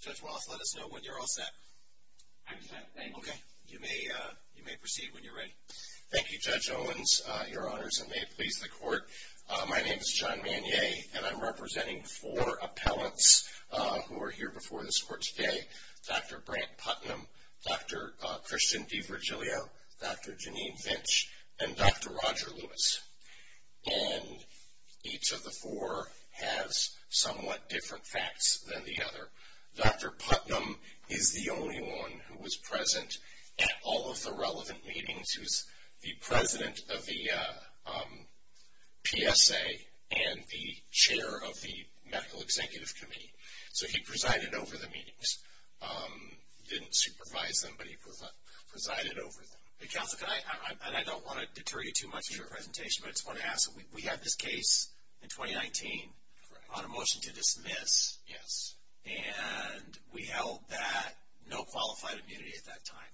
Judge Wallace, let us know when you're all set. I'm set. Thank you. Okay. You may proceed when you're ready. Thank you, Judge Owens. Your Honors, and may it please the Court, my name is John Manier, and I'm representing four appellants who are here before this Court today, Dr. Brant Putnam, Dr. Christian DiVirgilio, Dr. Janine Vinch, and Dr. Roger Lewis. And each of the four has somewhat different facts than the other. Dr. Putnam is the only one who was present at all of the relevant meetings. He was the president of the PSA and the chair of the Medical Executive Committee. So he presided over the meetings. He didn't supervise them, but he presided over them. Counsel, and I don't want to deter you too much in your presentation, but I just want to ask, we had this case in 2019 on a motion to dismiss. Yes. And we held that no qualified immunity at that time.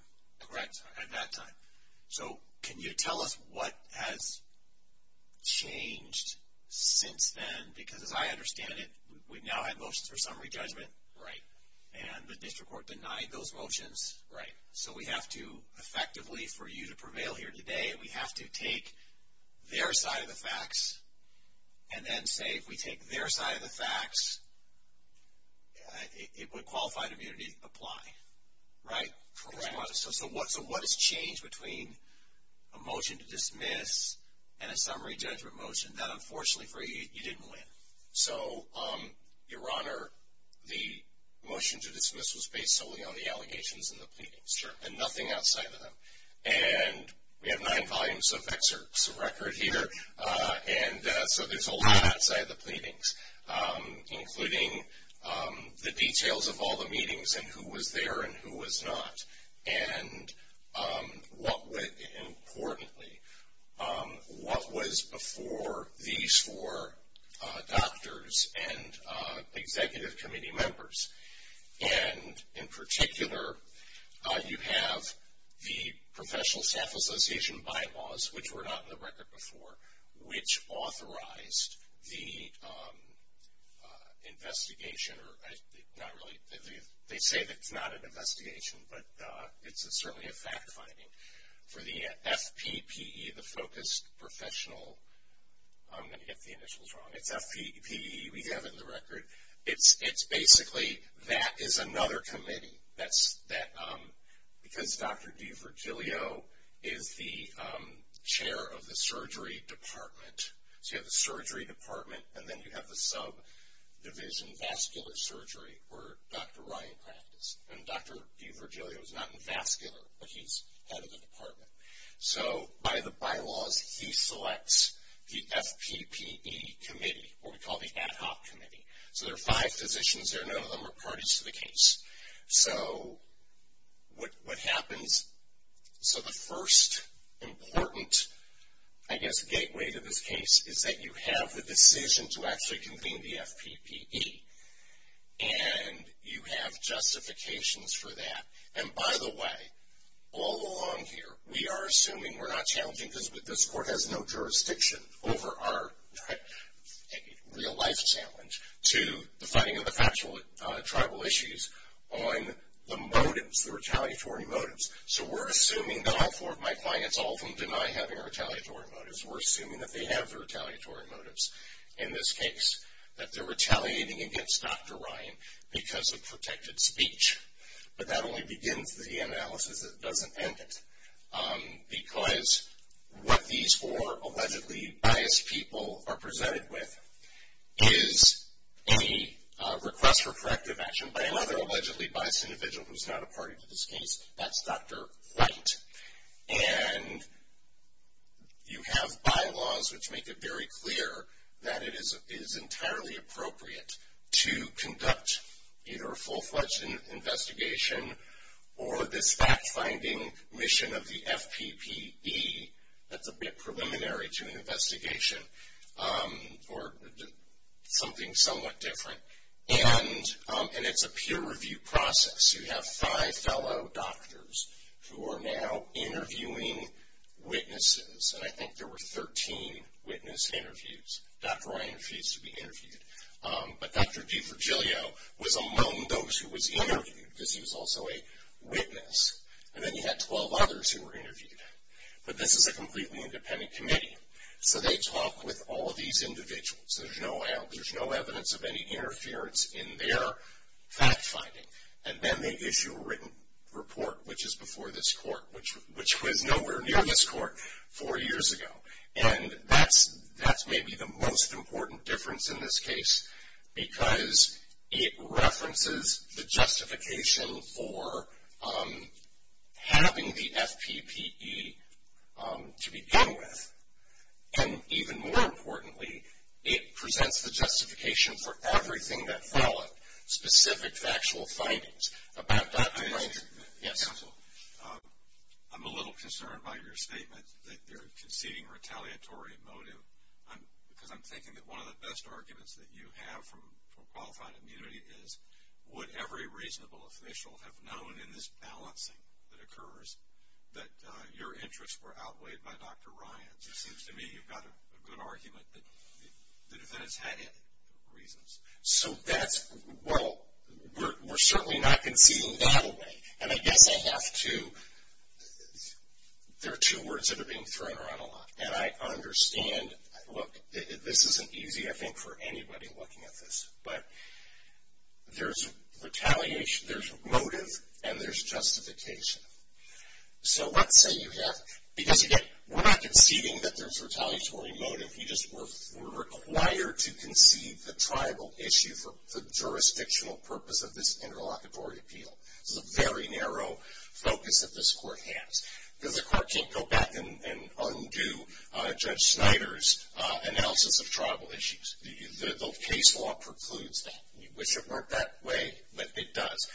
Correct. At that time. So can you tell us what has changed since then? Because as I understand it, we now have motions for summary judgment. Right. And the district court denied those motions. Right. So we have to effectively, for you to prevail here today, we have to take their side of the facts and then say if we take their side of the facts, it would qualify immunity apply. Right? Correct. So what has changed between a motion to dismiss and a summary judgment motion? That, unfortunately for you, you didn't win. So, Your Honor, the motion to dismiss was based solely on the allegations and the pleadings. Sure. And nothing outside of them. And we have nine volumes of excerpts of record here, and so there's a lot outside of the pleadings, including the details of all the meetings and who was there and who was not. And importantly, what was before these four doctors and executive committee members. And in particular, you have the professional staff association bylaws, which were not in the record before, which authorized the investigation. They say that it's not an investigation, but it's certainly a fact finding. For the FPPE, the focused professional, I'm going to get the initials wrong. It's FPPE. We have it in the record. It's basically that is another committee. Because Dr. DiVirgilio is the chair of the surgery department, so you have the surgery department, and then you have the subdivision vascular surgery where Dr. Ryan practiced. And Dr. DiVirgilio is not in vascular, but he's head of the department. So by the bylaws, he selects the FPPE committee, what we call the ad hoc committee. So there are five physicians there. None of them are parties to the case. So what happens? So the first important, I guess, gateway to this case is that you have the decision to actually convene the FPPE, and you have justifications for that. And by the way, all along here, we are assuming we're not challenging, because this court has no jurisdiction over our real life challenge, to the fighting of the factual tribal issues on the motives, the retaliatory motives. So we're assuming that all four of my clients, all of them, deny having retaliatory motives. We're assuming that they have the retaliatory motives in this case, that they're retaliating against Dr. Ryan because of protected speech. But that only begins the analysis. It doesn't end it. Because what these four allegedly biased people are presented with is a request for corrective action by another allegedly biased individual who's not a party to this case. That's Dr. White. And you have bylaws which make it very clear that it is entirely appropriate to conduct either a full-fledged investigation or this fact-finding mission of the FPPE that's a bit preliminary to an investigation, or something somewhat different. And it's a peer-review process. You have five fellow doctors who are now interviewing witnesses. And I think there were 13 witness interviews. Dr. Ryan refused to be interviewed. But Dr. DeFragilio was among those who was interviewed because he was also a witness. And then you had 12 others who were interviewed. But this is a completely independent committee. So they talk with all of these individuals. There's no evidence of any interference in their fact-finding. And then they issue a written report, which is before this court, which was nowhere near this court four years ago. And that's maybe the most important difference in this case because it references the justification for having the FPPE to begin with. And even more importantly, it presents the justification for everything that fell at specific factual findings about Dr. Ryan. Yes. I'm a little concerned by your statement that you're conceding retaliatory motive because I'm thinking that one of the best arguments that you have for qualified immunity is, would every reasonable official have known in this balancing that occurs that your interests were outweighed by Dr. Ryan's? It seems to me you've got a good argument that the defendant's had it for reasons. So that's, well, we're certainly not conceding that away. And I guess I have to, there are two words that are being thrown around a lot. And I understand, look, this isn't easy, I think, for anybody looking at this. But there's retaliation, there's motive, and there's justification. So let's say you have, because again, we're not conceding that there's retaliatory motive. You just were required to concede the tribal issue for the jurisdictional purpose of this interlocutory appeal. This is a very narrow focus that this court has. Because the court can't go back and undo Judge Snyder's analysis of tribal issues. The case law precludes that. You wish it weren't that way, but it does.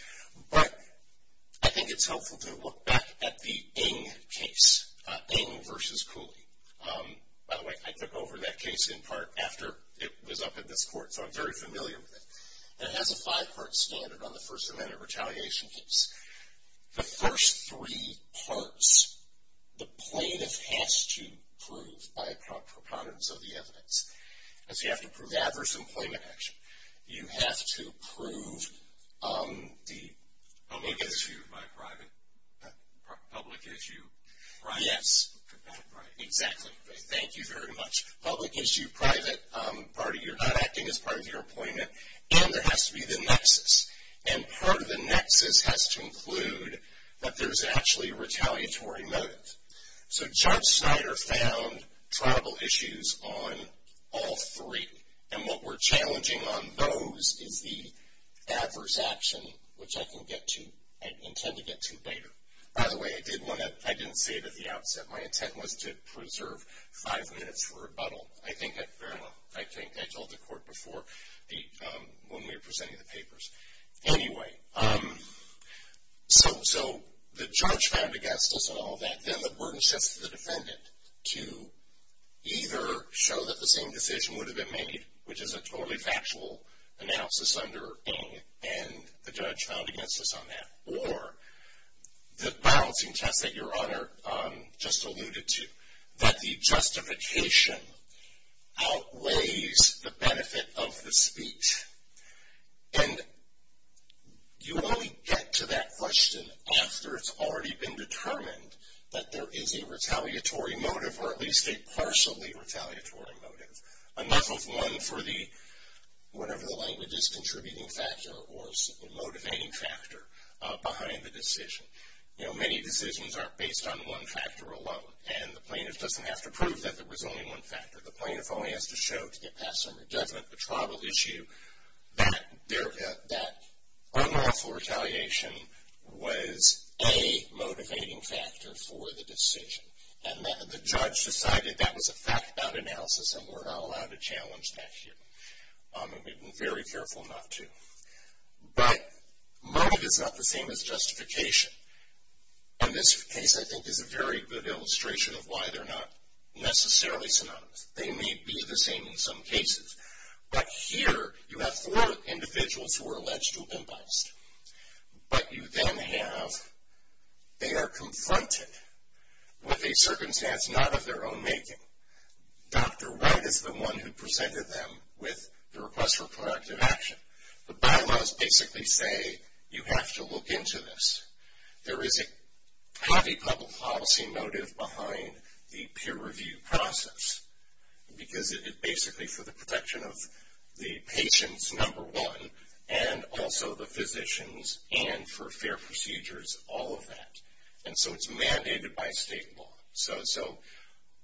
But I think it's helpful to look back at the Ng case, Ng versus Cooley. By the way, I took over that case in part after it was up at this court. So I'm very familiar with it. And it has a five-part standard on the First Amendment retaliation case. The first three parts, the plaintiff has to prove by a preponderance of the evidence. And so you have to prove adverse employment action. You have to prove the- Yes, exactly. Thank you very much. Public issue, private, you're not acting as part of your appointment. And there has to be the nexus. And part of the nexus has to include that there's actually a retaliatory motive. So Judge Snyder found tribal issues on all three. And what we're challenging on those is the adverse action, which I can get to, I intend to get to later. By the way, I didn't say it at the outset. My intent was to preserve five minutes for rebuttal. I think I told the court before when we were presenting the papers. Anyway, so the judge found against us on all that. Then the burden shifts to the defendant to either show that the same decision would have been made, which is a totally factual analysis under Ng, and the judge found against us on that. Or the balancing test that Your Honor just alluded to, that the justification outweighs the benefit of the speech. And you only get to that question after it's already been determined that there is a retaliatory motive, or at least a partially retaliatory motive. Enough of one for the, whatever the language is, contributing factor or motivating factor behind the decision. You know, many decisions aren't based on one factor alone. And the plaintiff doesn't have to prove that there was only one factor. The plaintiff only has to show to get past some definite tribal issue that unlawful retaliation was a motivating factor for the decision. And the judge decided that was a fact about analysis and we're not allowed to challenge that here. And we've been very careful not to. But motive is not the same as justification. And this case, I think, is a very good illustration of why they're not necessarily synonymous. They may be the same in some cases. But here you have four individuals who are alleged to have been biased. But you then have, they are confronted with a circumstance not of their own making. Dr. Wright is the one who presented them with the request for proactive action. The bylaws basically say you have to look into this. There is a heavy public policy motive behind the peer review process. Because it is basically for the protection of the patients, number one, and also the physicians and for fair procedures, all of that. And so it's mandated by state law. So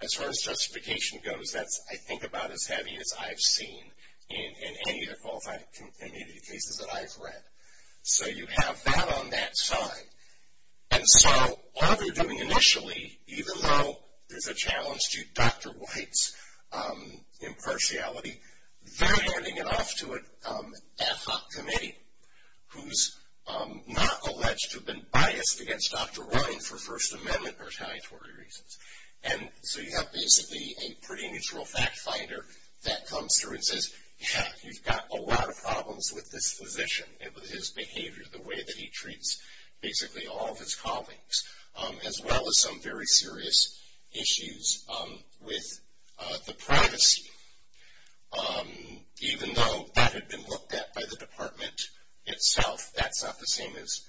as far as justification goes, that's, I think, about as heavy as I've seen in any of the qualified community cases that I've read. So you have that on that side. And so all they're doing initially, even though there's a challenge to Dr. Wright's impartiality, they're handing it off to an ad hoc committee who's not alleged to have been biased against Dr. Wright for First Amendment retaliatory reasons. And so you have basically a pretty neutral fact finder that comes through and says, yeah, you've got a lot of problems with this physician and with his behavior, the way that he treats basically all of his colleagues, as well as some very serious issues with the privacy. Even though that had been looked at by the department itself, that's not the same as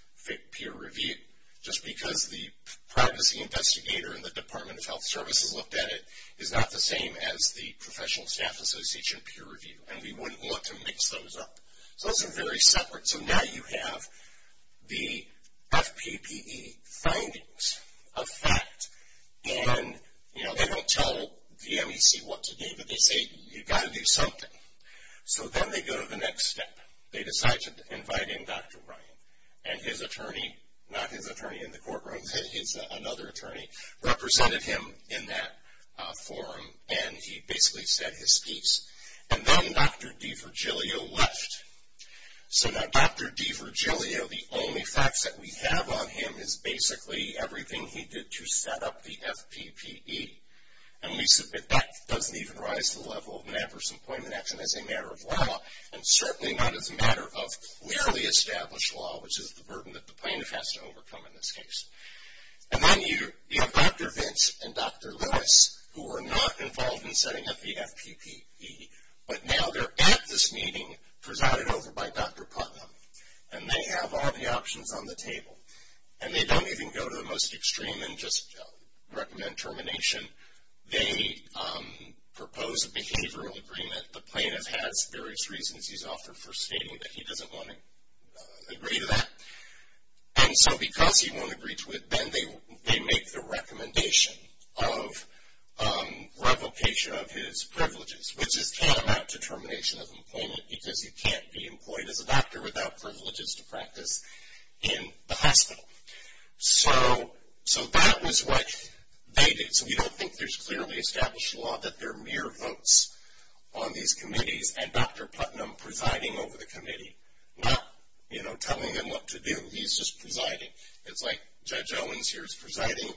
peer review. Just because the privacy investigator in the Department of Health Services looked at it is not the same as the Professional Staff Association peer review. And we wouldn't want to mix those up. So those are very separate. So now you have the FPPE findings of fact. And, you know, they don't tell the MEC what to do, but they say you've got to do something. So then they go to the next step. They decide to invite in Dr. Wright. And his attorney, not his attorney in the courtroom, he's another attorney, represented him in that forum. And he basically said his piece. And then Dr. D'Fragilio left. So now Dr. D'Fragilio, the only facts that we have on him is basically everything he did to set up the FPPE. And that doesn't even rise to the level of an adverse employment action as a matter of law, and certainly not as a matter of legally established law, which is the burden that the plaintiff has to overcome in this case. And then you have Dr. Vince and Dr. Lewis, who were not involved in setting up the FPPE, but now they're at this meeting presided over by Dr. Putnam, and they have all the options on the table. And they don't even go to the most extreme and just recommend termination. They propose a behavioral agreement. The plaintiff has various reasons he's offered for stating that he doesn't want to agree to that. And so because he won't agree to it, then they make the recommendation of revocation of his privileges, which is tantamount to termination of employment because he can't be employed as a doctor without privileges to practice in the hospital. So that was what they did. So we don't think there's clearly established law that there are mere votes on these committees and Dr. Putnam presiding over the committee, not, you know, telling them what to do. He's just presiding. It's like Judge Owens here is presiding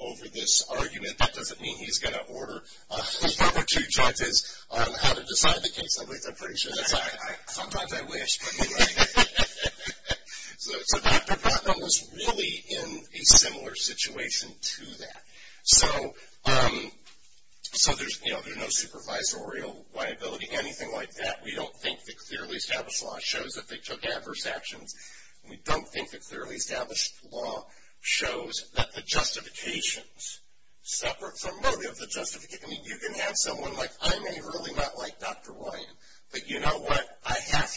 over this argument. That doesn't mean he's going to order one or two judges on how to decide the case. I'm pretty sure that's how sometimes I wish. So Dr. Putnam was really in a similar situation to that. So there's no supervisorial liability, anything like that. We don't think the clearly established law shows that they took adverse actions. We don't think the clearly established law shows that the justifications separate from motive. I mean, you can have someone like I may really not like Dr. White, but you know what? I have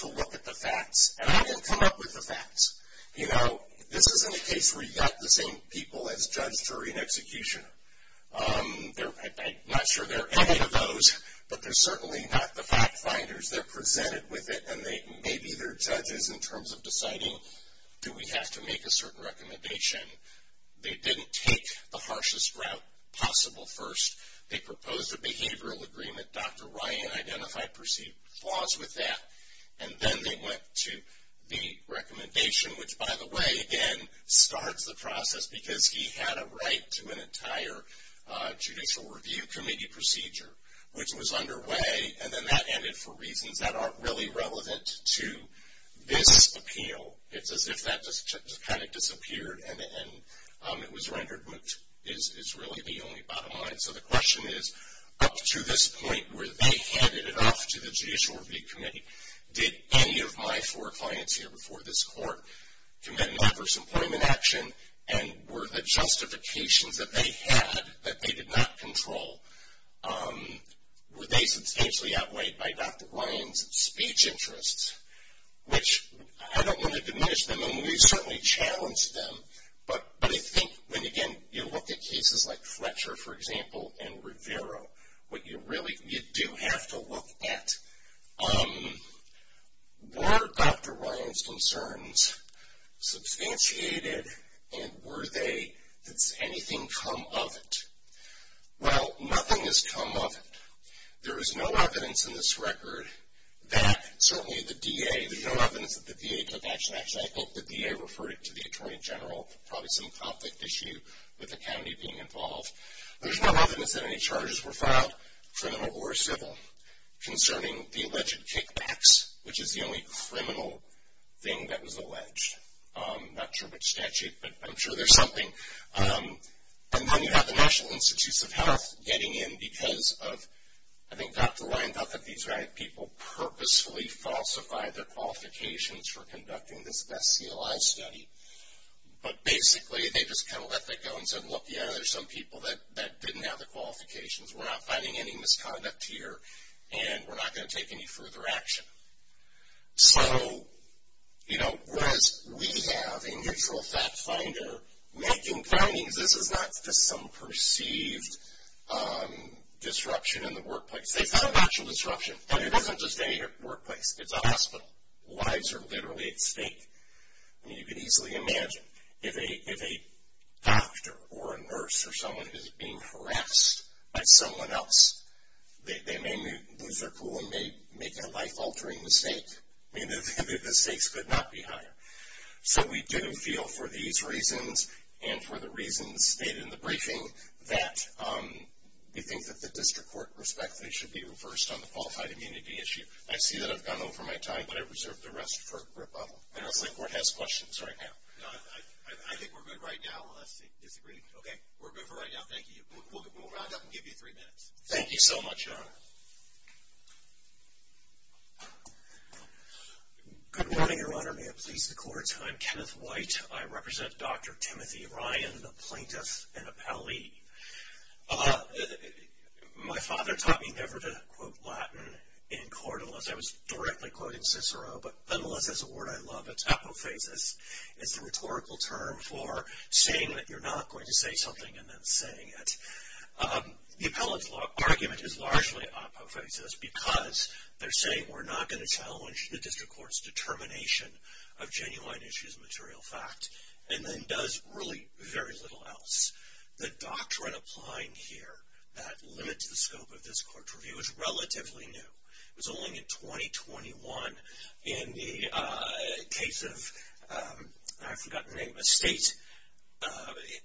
to look at the facts, and I can come up with the facts. You know, this isn't a case where you've got the same people as judge, jury, and executioner. I'm not sure there are any of those, but they're certainly not the fact finders. Sometimes they're presented with it, and they may be their judges in terms of deciding, do we have to make a certain recommendation? They didn't take the harshest route possible first. They proposed a behavioral agreement. Dr. Ryan identified perceived flaws with that. And then they went to the recommendation, which, by the way, again, starts the process because he had a right to an entire Judicial Review Committee procedure, which was underway. And then that ended for reasons that aren't really relevant to this appeal. It's as if that just kind of disappeared and it was rendered moot is really the only bottom line. So the question is, up to this point, were they handed it off to the Judicial Review Committee? Did any of my four clients here before this court commit an adverse employment action? And were the justifications that they had that they did not control, were they substantially outweighed by Dr. Ryan's speech interests? Which I don't want to diminish them, and we certainly challenged them. But I think when, again, you look at cases like Fletcher, for example, and Rivero, what you really do have to look at, were Dr. Ryan's concerns substantiated? And were they? Did anything come of it? Well, nothing has come of it. There is no evidence in this record that certainly the DA, there's no evidence that the DA took action. Actually, I think the DA referred it to the Attorney General, probably some conflict issue with the county being involved. There's no evidence that any charges were filed, criminal or civil, concerning the alleged kickbacks, which is the only criminal thing that was alleged. I'm not sure which statute, but I'm sure there's something. And then you have the National Institutes of Health getting in because of, I think Dr. Ryan thought that these people purposefully falsified their qualifications for conducting this best CLI study. But basically, they just kind of let that go and said, look, yeah, there's some people that didn't have the qualifications. We're not finding any misconduct here, and we're not going to take any further action. So, you know, whereas we have a neutral fact finder making findings, this is not just some perceived disruption in the workplace. They found actual disruption, and it isn't just any workplace. It's a hospital. Lives are literally at stake. I mean, you can easily imagine if a doctor or a nurse or someone is being harassed by someone else, they may lose their cool and make a life-altering mistake. I mean, the stakes could not be higher. So we do feel for these reasons and for the reasons stated in the briefing that we think that the district court respectfully should be reversed on the qualified immunity issue. I see that I've gone over my time, but I reserve the rest for rebuttal. I know the state court has questions right now. No, I think we're good right now unless they disagree. Okay, we're good for right now. Thank you. We'll round up and give you three minutes. Thank you so much, Your Honor. Good morning, Your Honor. May it please the court. I'm Kenneth White. I represent Dr. Timothy Ryan, a plaintiff and a pallee. My father taught me never to quote Latin in court unless I was directly quoting Cicero, but nonetheless, it's a word I love. It's apophasis. It's the rhetorical term for saying that you're not going to say something and then saying it. The appellate's argument is largely apophasis because they're saying we're not going to challenge the district court's determination of genuine issues and material fact and then does really very little else. The doctrine applying here that limits the scope of this court's review is relatively new. It was only in 2021 in the case of, I've forgotten the name, a state.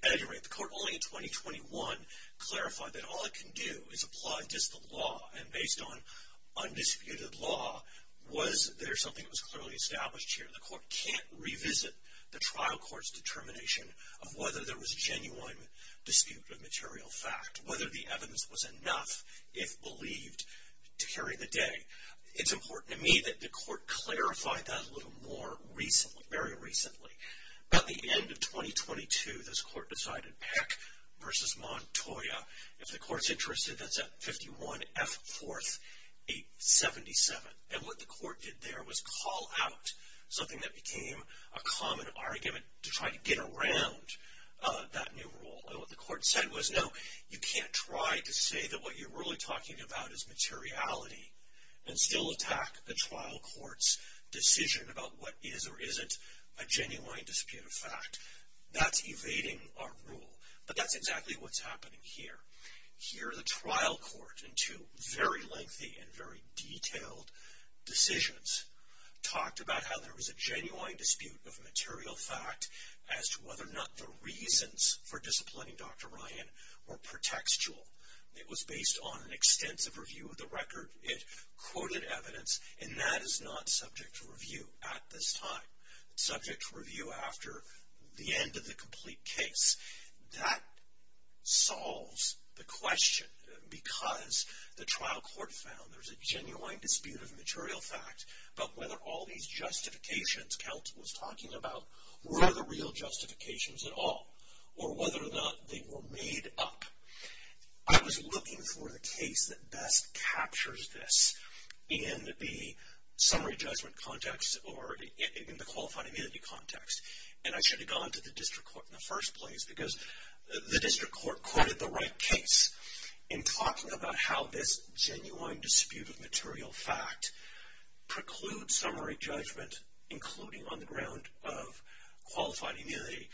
At any rate, the court only in 2021 clarified that all it can do is apply just the law and based on undisputed law was there something that was clearly established here. The court can't revisit the trial court's determination of whether there was a genuine dispute of material fact, whether the evidence was enough, if believed, to carry the day. It's important to me that the court clarify that a little more recently, very recently. At the end of 2022, this court decided Peck versus Montoya. If the court's interested, that's at 51F4877. And what the court did there was call out something that became a common argument to try to get around that new rule. And what the court said was, no, you can't try to say that what you're really talking about is materiality and still attack the trial court's decision about what is or isn't a genuine dispute of fact. That's evading our rule. But that's exactly what's happening here. Here the trial court in two very lengthy and very detailed decisions talked about how there was a genuine dispute of material fact as to whether or not the reasons for disciplining Dr. Ryan were pretextual. It was based on an extensive review of the record. It quoted evidence. And that is not subject to review at this time. It's subject to review after the end of the complete case. That solves the question. Because the trial court found there's a genuine dispute of material fact, but whether all these justifications Count was talking about were the real justifications at all. Or whether or not they were made up. I was looking for the case that best captures this in the summary judgment context or in the qualified immunity context. And I should have gone to the district court in the first place because the district court quoted the right case in talking about how this genuine dispute of material fact precludes summary judgment, including on the ground of qualified immunity.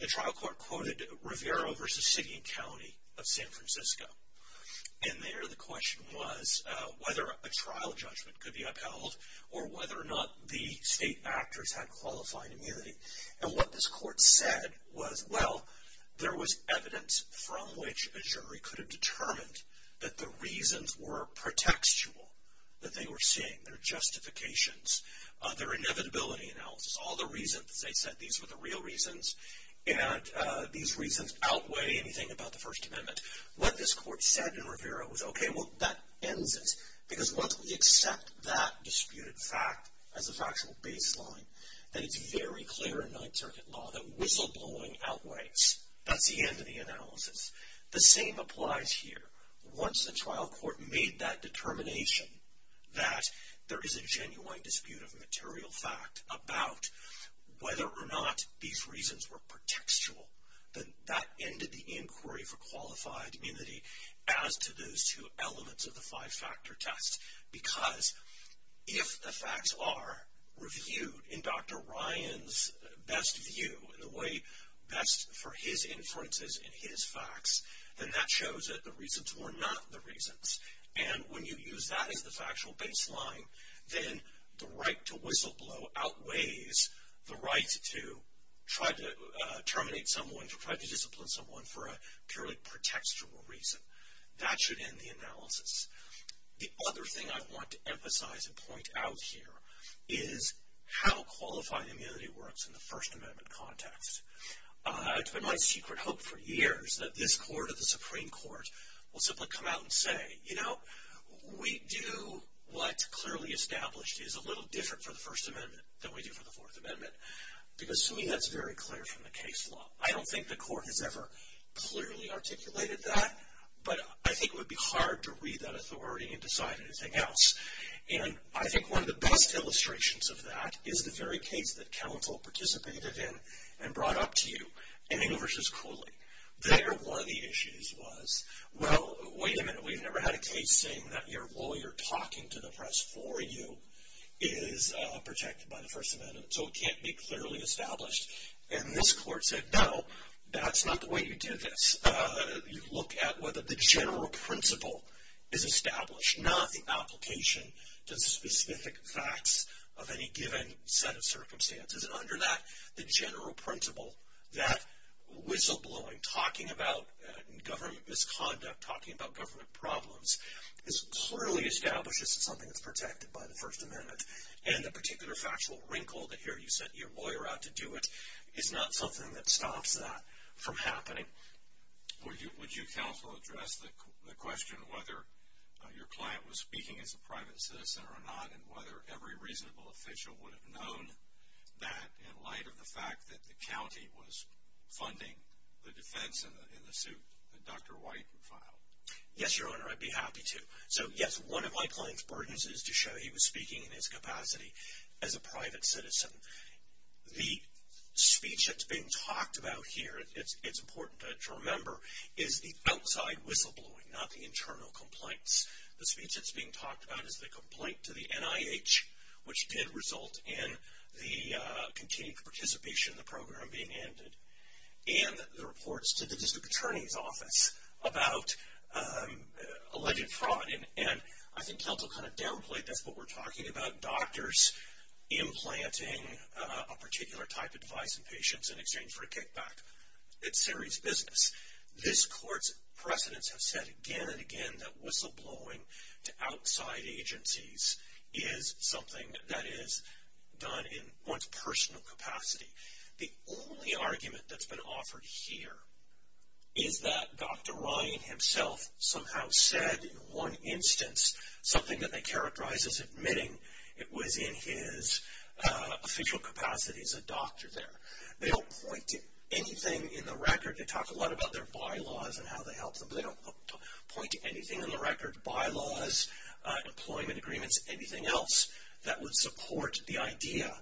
The trial court quoted Rivera v. City and County of San Francisco. And there the question was whether a trial judgment could be upheld or whether or not the state actors had qualified immunity. And what this court said was, well, there was evidence from which a jury could have determined that the reasons were pretextual. That they were seeing their justifications, their inevitability analysis, all the reasons that they said these were the real reasons. And these reasons outweigh anything about the First Amendment. What this court said in Rivera was, okay, well, that ends it. Because once we accept that disputed fact as a factual baseline, then it's very clear in Ninth Circuit law that whistleblowing outweighs. That's the end of the analysis. The same applies here. Once the trial court made that determination that there is a genuine dispute of material fact about whether or not these reasons were pretextual, then that ended the inquiry for qualified immunity as to those two elements of the five-factor test. Because if the facts are reviewed in Dr. Ryan's best view, in the way best for his inferences and his facts, then that shows that the reasons were not the reasons. And when you use that as the factual baseline, then the right to whistleblow outweighs the right to try to terminate someone, to try to discipline someone for a purely pretextual reason. That should end the analysis. The other thing I want to emphasize and point out here is how qualified immunity works in the First Amendment context. It's been my secret hope for years that this court or the Supreme Court will simply come out and say, you know, we do what's clearly established is a little different for the First Amendment than we do for the Fourth Amendment. Because to me that's very clear from the case law. I don't think the court has ever clearly articulated that, but I think it would be hard to read that authority and decide anything else. And I think one of the best illustrations of that is the very case that Counsel participated in and brought up to you in Engle v. Cooley. There one of the issues was, well, wait a minute, we've never had a case saying that your lawyer talking to the press for you is protected by the First Amendment, so it can't be clearly established. And this court said, no, that's not the way you do this. You look at whether the general principle is established, not the application to specific facts of any given set of circumstances. And under that, the general principle, that whistleblowing, talking about government misconduct, talking about government problems, is clearly established as something that's protected by the First Amendment. And the particular factual wrinkle that here you sent your lawyer out to do it is not something that stops that from happening. Would you counsel address the question whether your client was speaking as a private citizen or not and whether every reasonable official would have known that in light of the fact that the county was funding the defense in the suit that Dr. White filed? Yes, Your Honor, I'd be happy to. So, yes, one of my client's burdens is to show he was speaking in his capacity as a private citizen. The speech that's being talked about here, it's important to remember, is the outside whistleblowing, not the internal complaints. The speech that's being talked about is the complaint to the NIH, which did result in the continued participation in the program being ended, and the reports to the district attorney's office about alleged fraud. And I think counsel kind of downplayed that's what we're talking about, doctors implanting a particular type of device in patients in exchange for a kickback. It's serious business. This Court's precedents have said again and again that whistleblowing to outside agencies is something that is done in one's personal capacity. The only argument that's been offered here is that Dr. Ryan himself somehow said in one instance something that they characterized as admitting it was in his official capacity as a doctor there. They don't point to anything in the record. They talk a lot about their bylaws and how they helped them, but they don't point to anything in the record, bylaws, employment agreements, anything else that would support the idea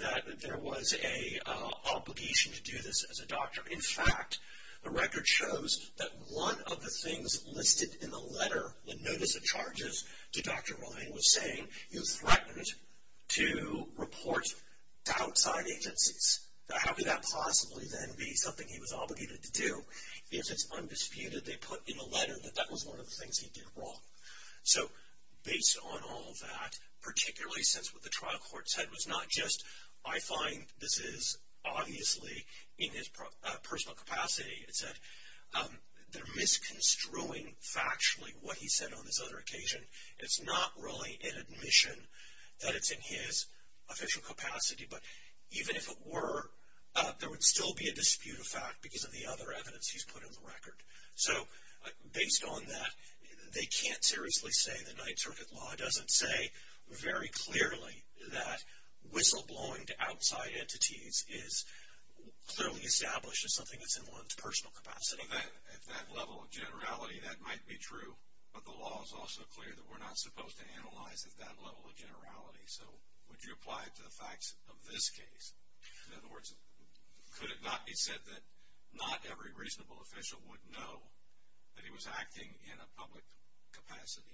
that there was an obligation to do this as a doctor. In fact, the record shows that one of the things listed in the letter, the notice of charges to Dr. Ryan was saying he was threatened to report to outside agencies. How could that possibly then be something he was obligated to do? If it's undisputed, they put in the letter that that was one of the things he did wrong. So based on all of that, particularly since what the trial court said was not just, I find this is obviously in his personal capacity, it's that they're misconstruing factually what he said on this other occasion. It's not really an admission that it's in his official capacity, but even if it were, there would still be a dispute of fact because of the other evidence he's put in the record. So based on that, they can't seriously say the Ninth Circuit Law doesn't say very clearly that whistleblowing to outside entities is clearly established as something that's in one's personal capacity. At that level of generality, that might be true, but the law is also clear that we're not supposed to analyze at that level of generality. So would you apply it to the facts of this case? In other words, could it not be said that not every reasonable official would know that he was acting in a public capacity?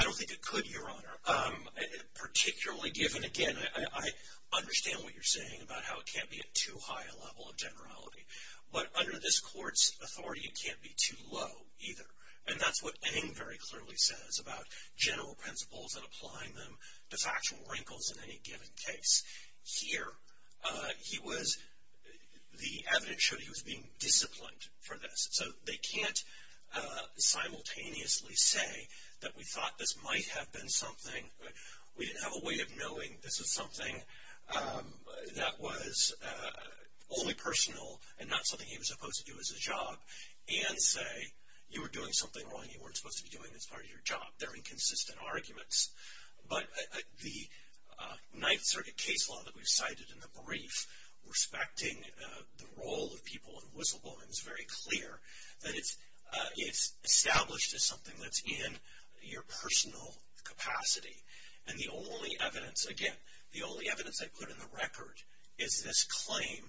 I don't think it could, Your Honor, particularly given, again, I understand what you're saying about how it can't be at too high a level of generality. But under this court's authority, it can't be too low either. And that's what Eng very clearly says about general principles and applying them to factual wrinkles in any given case. Here, he was, the evidence showed he was being disciplined for this. So they can't simultaneously say that we thought this might have been something, we didn't have a way of knowing this was something that was only personal and not something he was supposed to do as a job, and say you were doing something wrong you weren't supposed to be doing as part of your job. They're inconsistent arguments. But the Ninth Circuit case law that we've cited in the brief, respecting the role of people in whistleblowing, is very clear that it's established as something that's in your personal capacity. And the only evidence, again, the only evidence they put in the record is this claim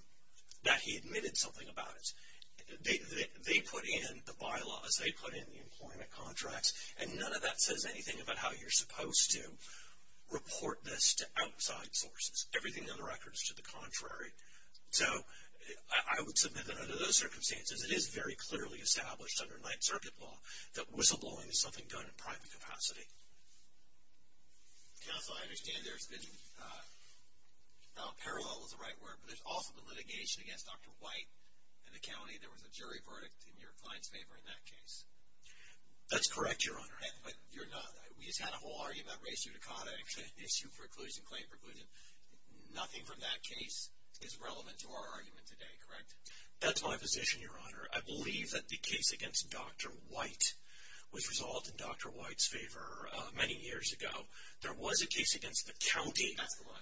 that he admitted something about it. They put in the bylaws, they put in the employment contracts, and none of that says anything about how you're supposed to report this to outside sources. Everything in the record is to the contrary. So I would submit that under those circumstances, it is very clearly established under Ninth Circuit law that whistleblowing is something done in private capacity. Counsel, I understand there's been, parallel is the right word, but there's also been litigation against Dr. White in the county. There was a jury verdict in your client's favor in that case. That's correct, Your Honor. But you're not, we just had a whole argument about res judicata, issue preclusion, claim preclusion. Nothing from that case is relevant to our argument today, correct? That's my position, Your Honor. I believe that the case against Dr. White was resolved in Dr. White's favor many years ago. There was a case against the county. That's the one.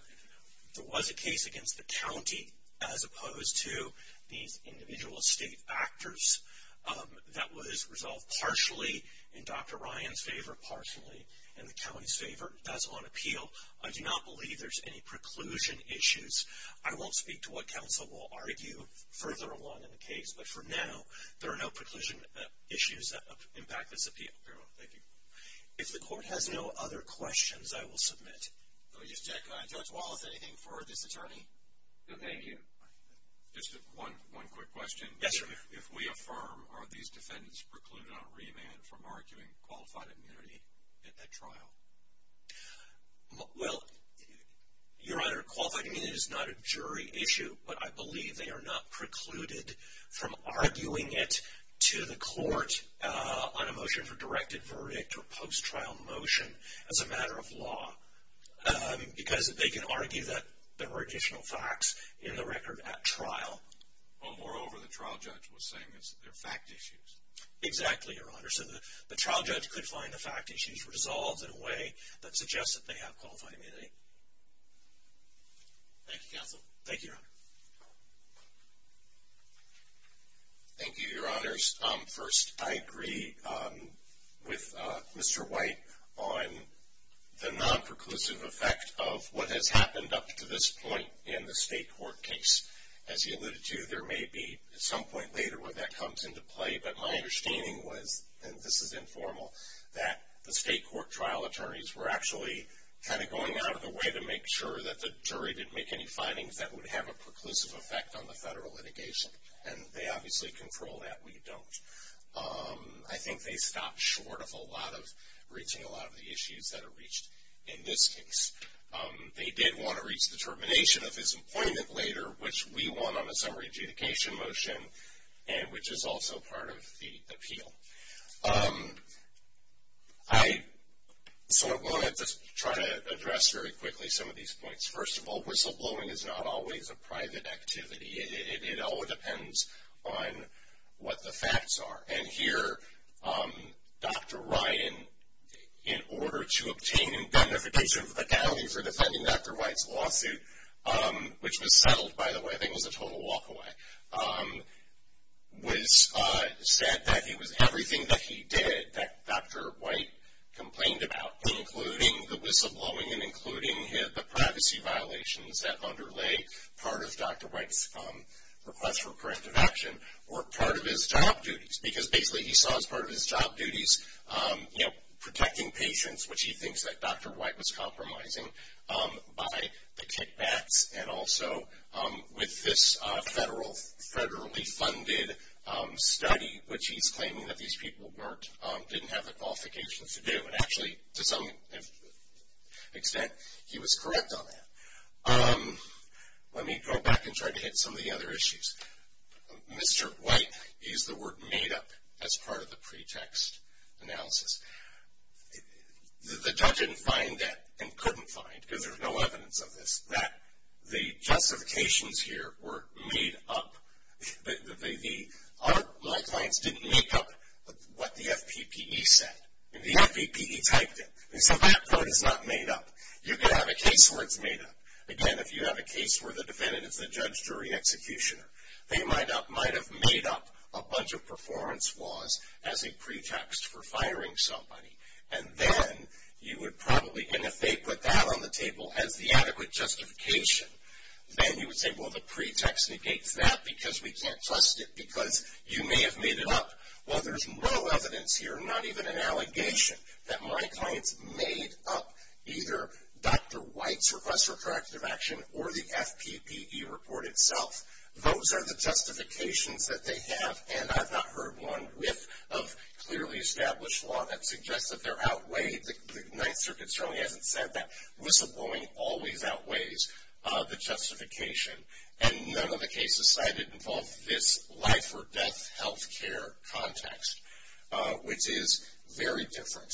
There was a case against the county, as opposed to these individual state actors, that was resolved partially in Dr. Ryan's favor, partially in the county's favor. That's on appeal. I do not believe there's any preclusion issues. I won't speak to what counsel will argue further along in the case, but for now, there are no preclusion issues that impact this appeal. Fair enough. Thank you. If the court has no other questions, I will submit. Judge Wallace, anything for this attorney? No, thank you. Just one quick question. Yes, sir. If we affirm, are these defendants precluded on remand from arguing qualified immunity at that trial? Well, Your Honor, qualified immunity is not a jury issue, but I believe they are not precluded from arguing it to the court on a motion for directed verdict or post-trial motion as a matter of law because they can argue that there are additional facts in the record at trial. Well, moreover, the trial judge was saying that they're fact issues. Exactly, Your Honor. So the trial judge could find the fact issues resolved in a way that suggests that they have qualified immunity. Thank you, counsel. Thank you, Your Honor. Thank you, Your Honors. First, I agree with Mr. White on the non-preclusive effect of what has happened up to this point in the state court case. As he alluded to, there may be some point later where that comes into play, but my understanding was, and this is informal, that the state court trial attorneys were actually kind of going out of the way to make sure that the jury didn't make any findings that would have a preclusive effect on the federal litigation. And they obviously control that. We don't. I think they stopped short of a lot of reaching a lot of the issues that are reached in this case. They did want to reach the termination of his employment later, which we won on a summary adjudication motion, and which is also part of the appeal. I sort of wanted to try to address very quickly some of these points. First of all, whistleblowing is not always a private activity. It all depends on what the facts are. And here, Dr. Ryan, in order to obtain a beneficial fatality for defending Dr. White's lawsuit, which was settled, by the way, I think it was a total walk away, said that everything that he did that Dr. White complained about, including the whistleblowing and including the privacy violations that underlay part of Dr. White's request for corrective action, were part of his job duties. Because basically he saw as part of his job duties, you know, protecting patients, which he thinks that Dr. White was compromising by the kickbacks, and also with this federally funded study, which he's claiming that these people didn't have the qualifications to do. And actually, to some extent, he was correct on that. Let me go back and try to hit some of the other issues. Mr. White used the word made up as part of the pretext analysis. The judge didn't find that and couldn't find, because there's no evidence of this, that the justifications here were made up. My clients didn't make up what the FPPE said. The FPPE typed it. And so that part is not made up. You can have a case where it's made up. Again, if you have a case where the defendant is a judge jury executioner, they might have made up a bunch of performance laws as a pretext for firing somebody. And then you would probably, and if they put that on the table as the adequate justification, then you would say, well, the pretext negates that because we can't trust it because you may have made it up. Well, there's no evidence here, not even an allegation, that my clients made up either Dr. White's request for corrective action or the FPPE report itself. Those are the justifications that they have, and I've not heard one riff of clearly established law that suggests that they're outweighed. The Ninth Circuit certainly hasn't said that. Whistleblowing always outweighs the justification. And none of the cases cited involve this life or death health care context, which is very different.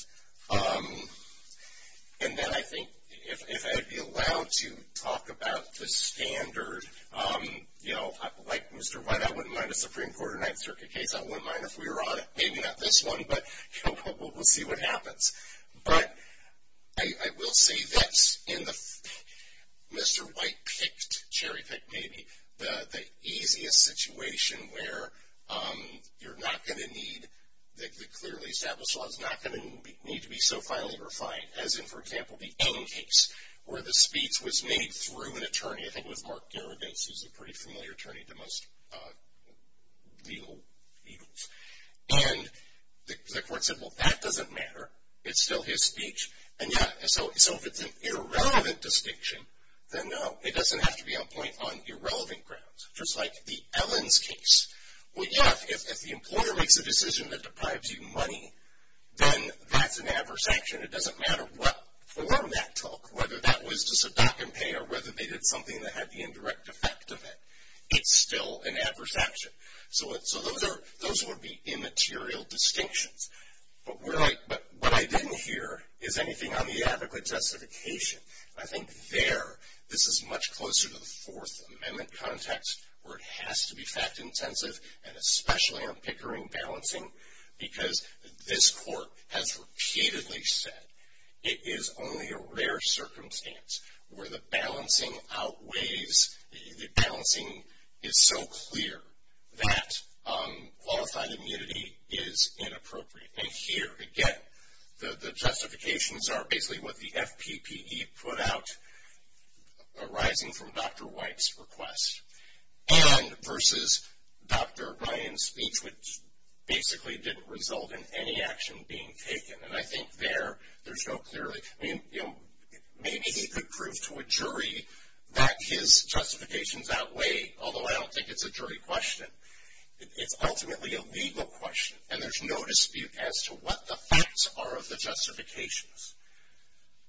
And then I think if I would be allowed to talk about the standard, you know, like Mr. White, I wouldn't mind a Supreme Court or Ninth Circuit case. I wouldn't mind if we were on it. Maybe not this one, but we'll see what happens. But I will say that in the Mr. White-picked, cherry-picked maybe, the easiest situation where you're not going to need the clearly established law is not going to need to be so finely refined. As in, for example, the Ame case, where the speech was made through an attorney. I think it was Mark Geragos, who's a pretty familiar attorney to most legal evils. And the court said, well, that doesn't matter. It's still his speech. And yeah, so if it's an irrelevant distinction, then no, it doesn't have to be on point on irrelevant grounds. Just like the Ellens case. Well, yeah, if the employer makes a decision that deprives you money, then that's an adverse action. It doesn't matter what form that took, whether that was to subduct and pay or whether they did something that had the indirect effect of it. It's still an adverse action. So those would be immaterial distinctions. But what I didn't hear is anything on the adequate justification. I think there, this is much closer to the Fourth Amendment context, where it has to be fact-intensive, and especially on Pickering balancing, because this court has repeatedly said it is only a rare circumstance where the balancing outweighs, the balancing is so clear that qualified immunity is inappropriate. And here, again, the justifications are basically what the FPPE put out arising from Dr. White's request and versus Dr. Ryan's speech, which basically didn't result in any action being taken. And I think there, there's no clearly, maybe he could prove to a jury that his justifications outweigh, although I don't think it's a jury question, it's ultimately a legal question, and there's no dispute as to what the facts are of the justifications.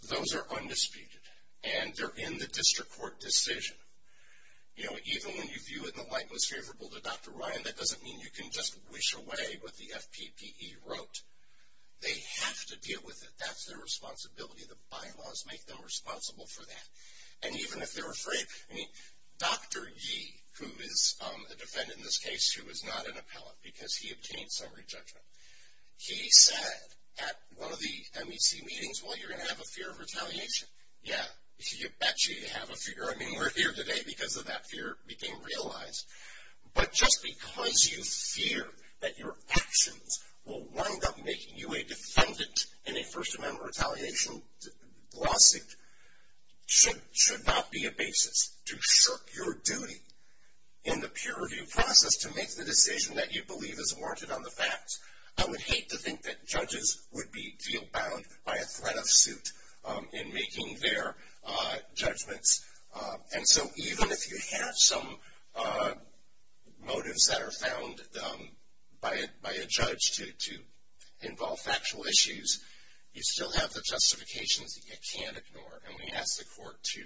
Those are undisputed, and they're in the district court decision. Even when you view it in the light most favorable to Dr. Ryan, that doesn't mean you can just wish away what the FPPE wrote. They have to deal with it. That's their responsibility. The bylaws make them responsible for that. And even if they're afraid, I mean, Dr. Yee, who is a defendant in this case who is not an appellate because he obtained summary judgment, he said at one of the MEC meetings, well, you're going to have a fear of retaliation. Yeah, you bet you have a fear. I mean, we're here today because of that fear being realized. But just because you fear that your actions will wind up making you a defendant in a First Amendment retaliation lawsuit should not be a basis to shirk your duty in the peer review process to make the decision that you believe is warranted on the facts. I would hate to think that judges would be deal bound by a threat of suit in making their judgments. And so even if you have some motives that are found by a judge to involve factual issues, you still have the justifications that you can't ignore. And we ask the court to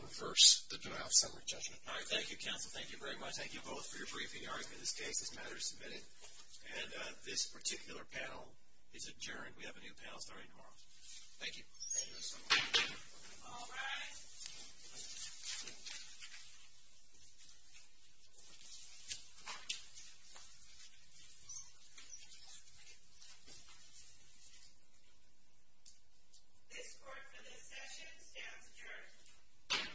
reverse the denial of summary judgment. All right, thank you, counsel. Thank you very much. Thank you both for your briefing. The argument of this case is matter of submitting. And this particular panel is adjourned. We have a new panel starting tomorrow. Thank you. All rise. This court for this session stands adjourned.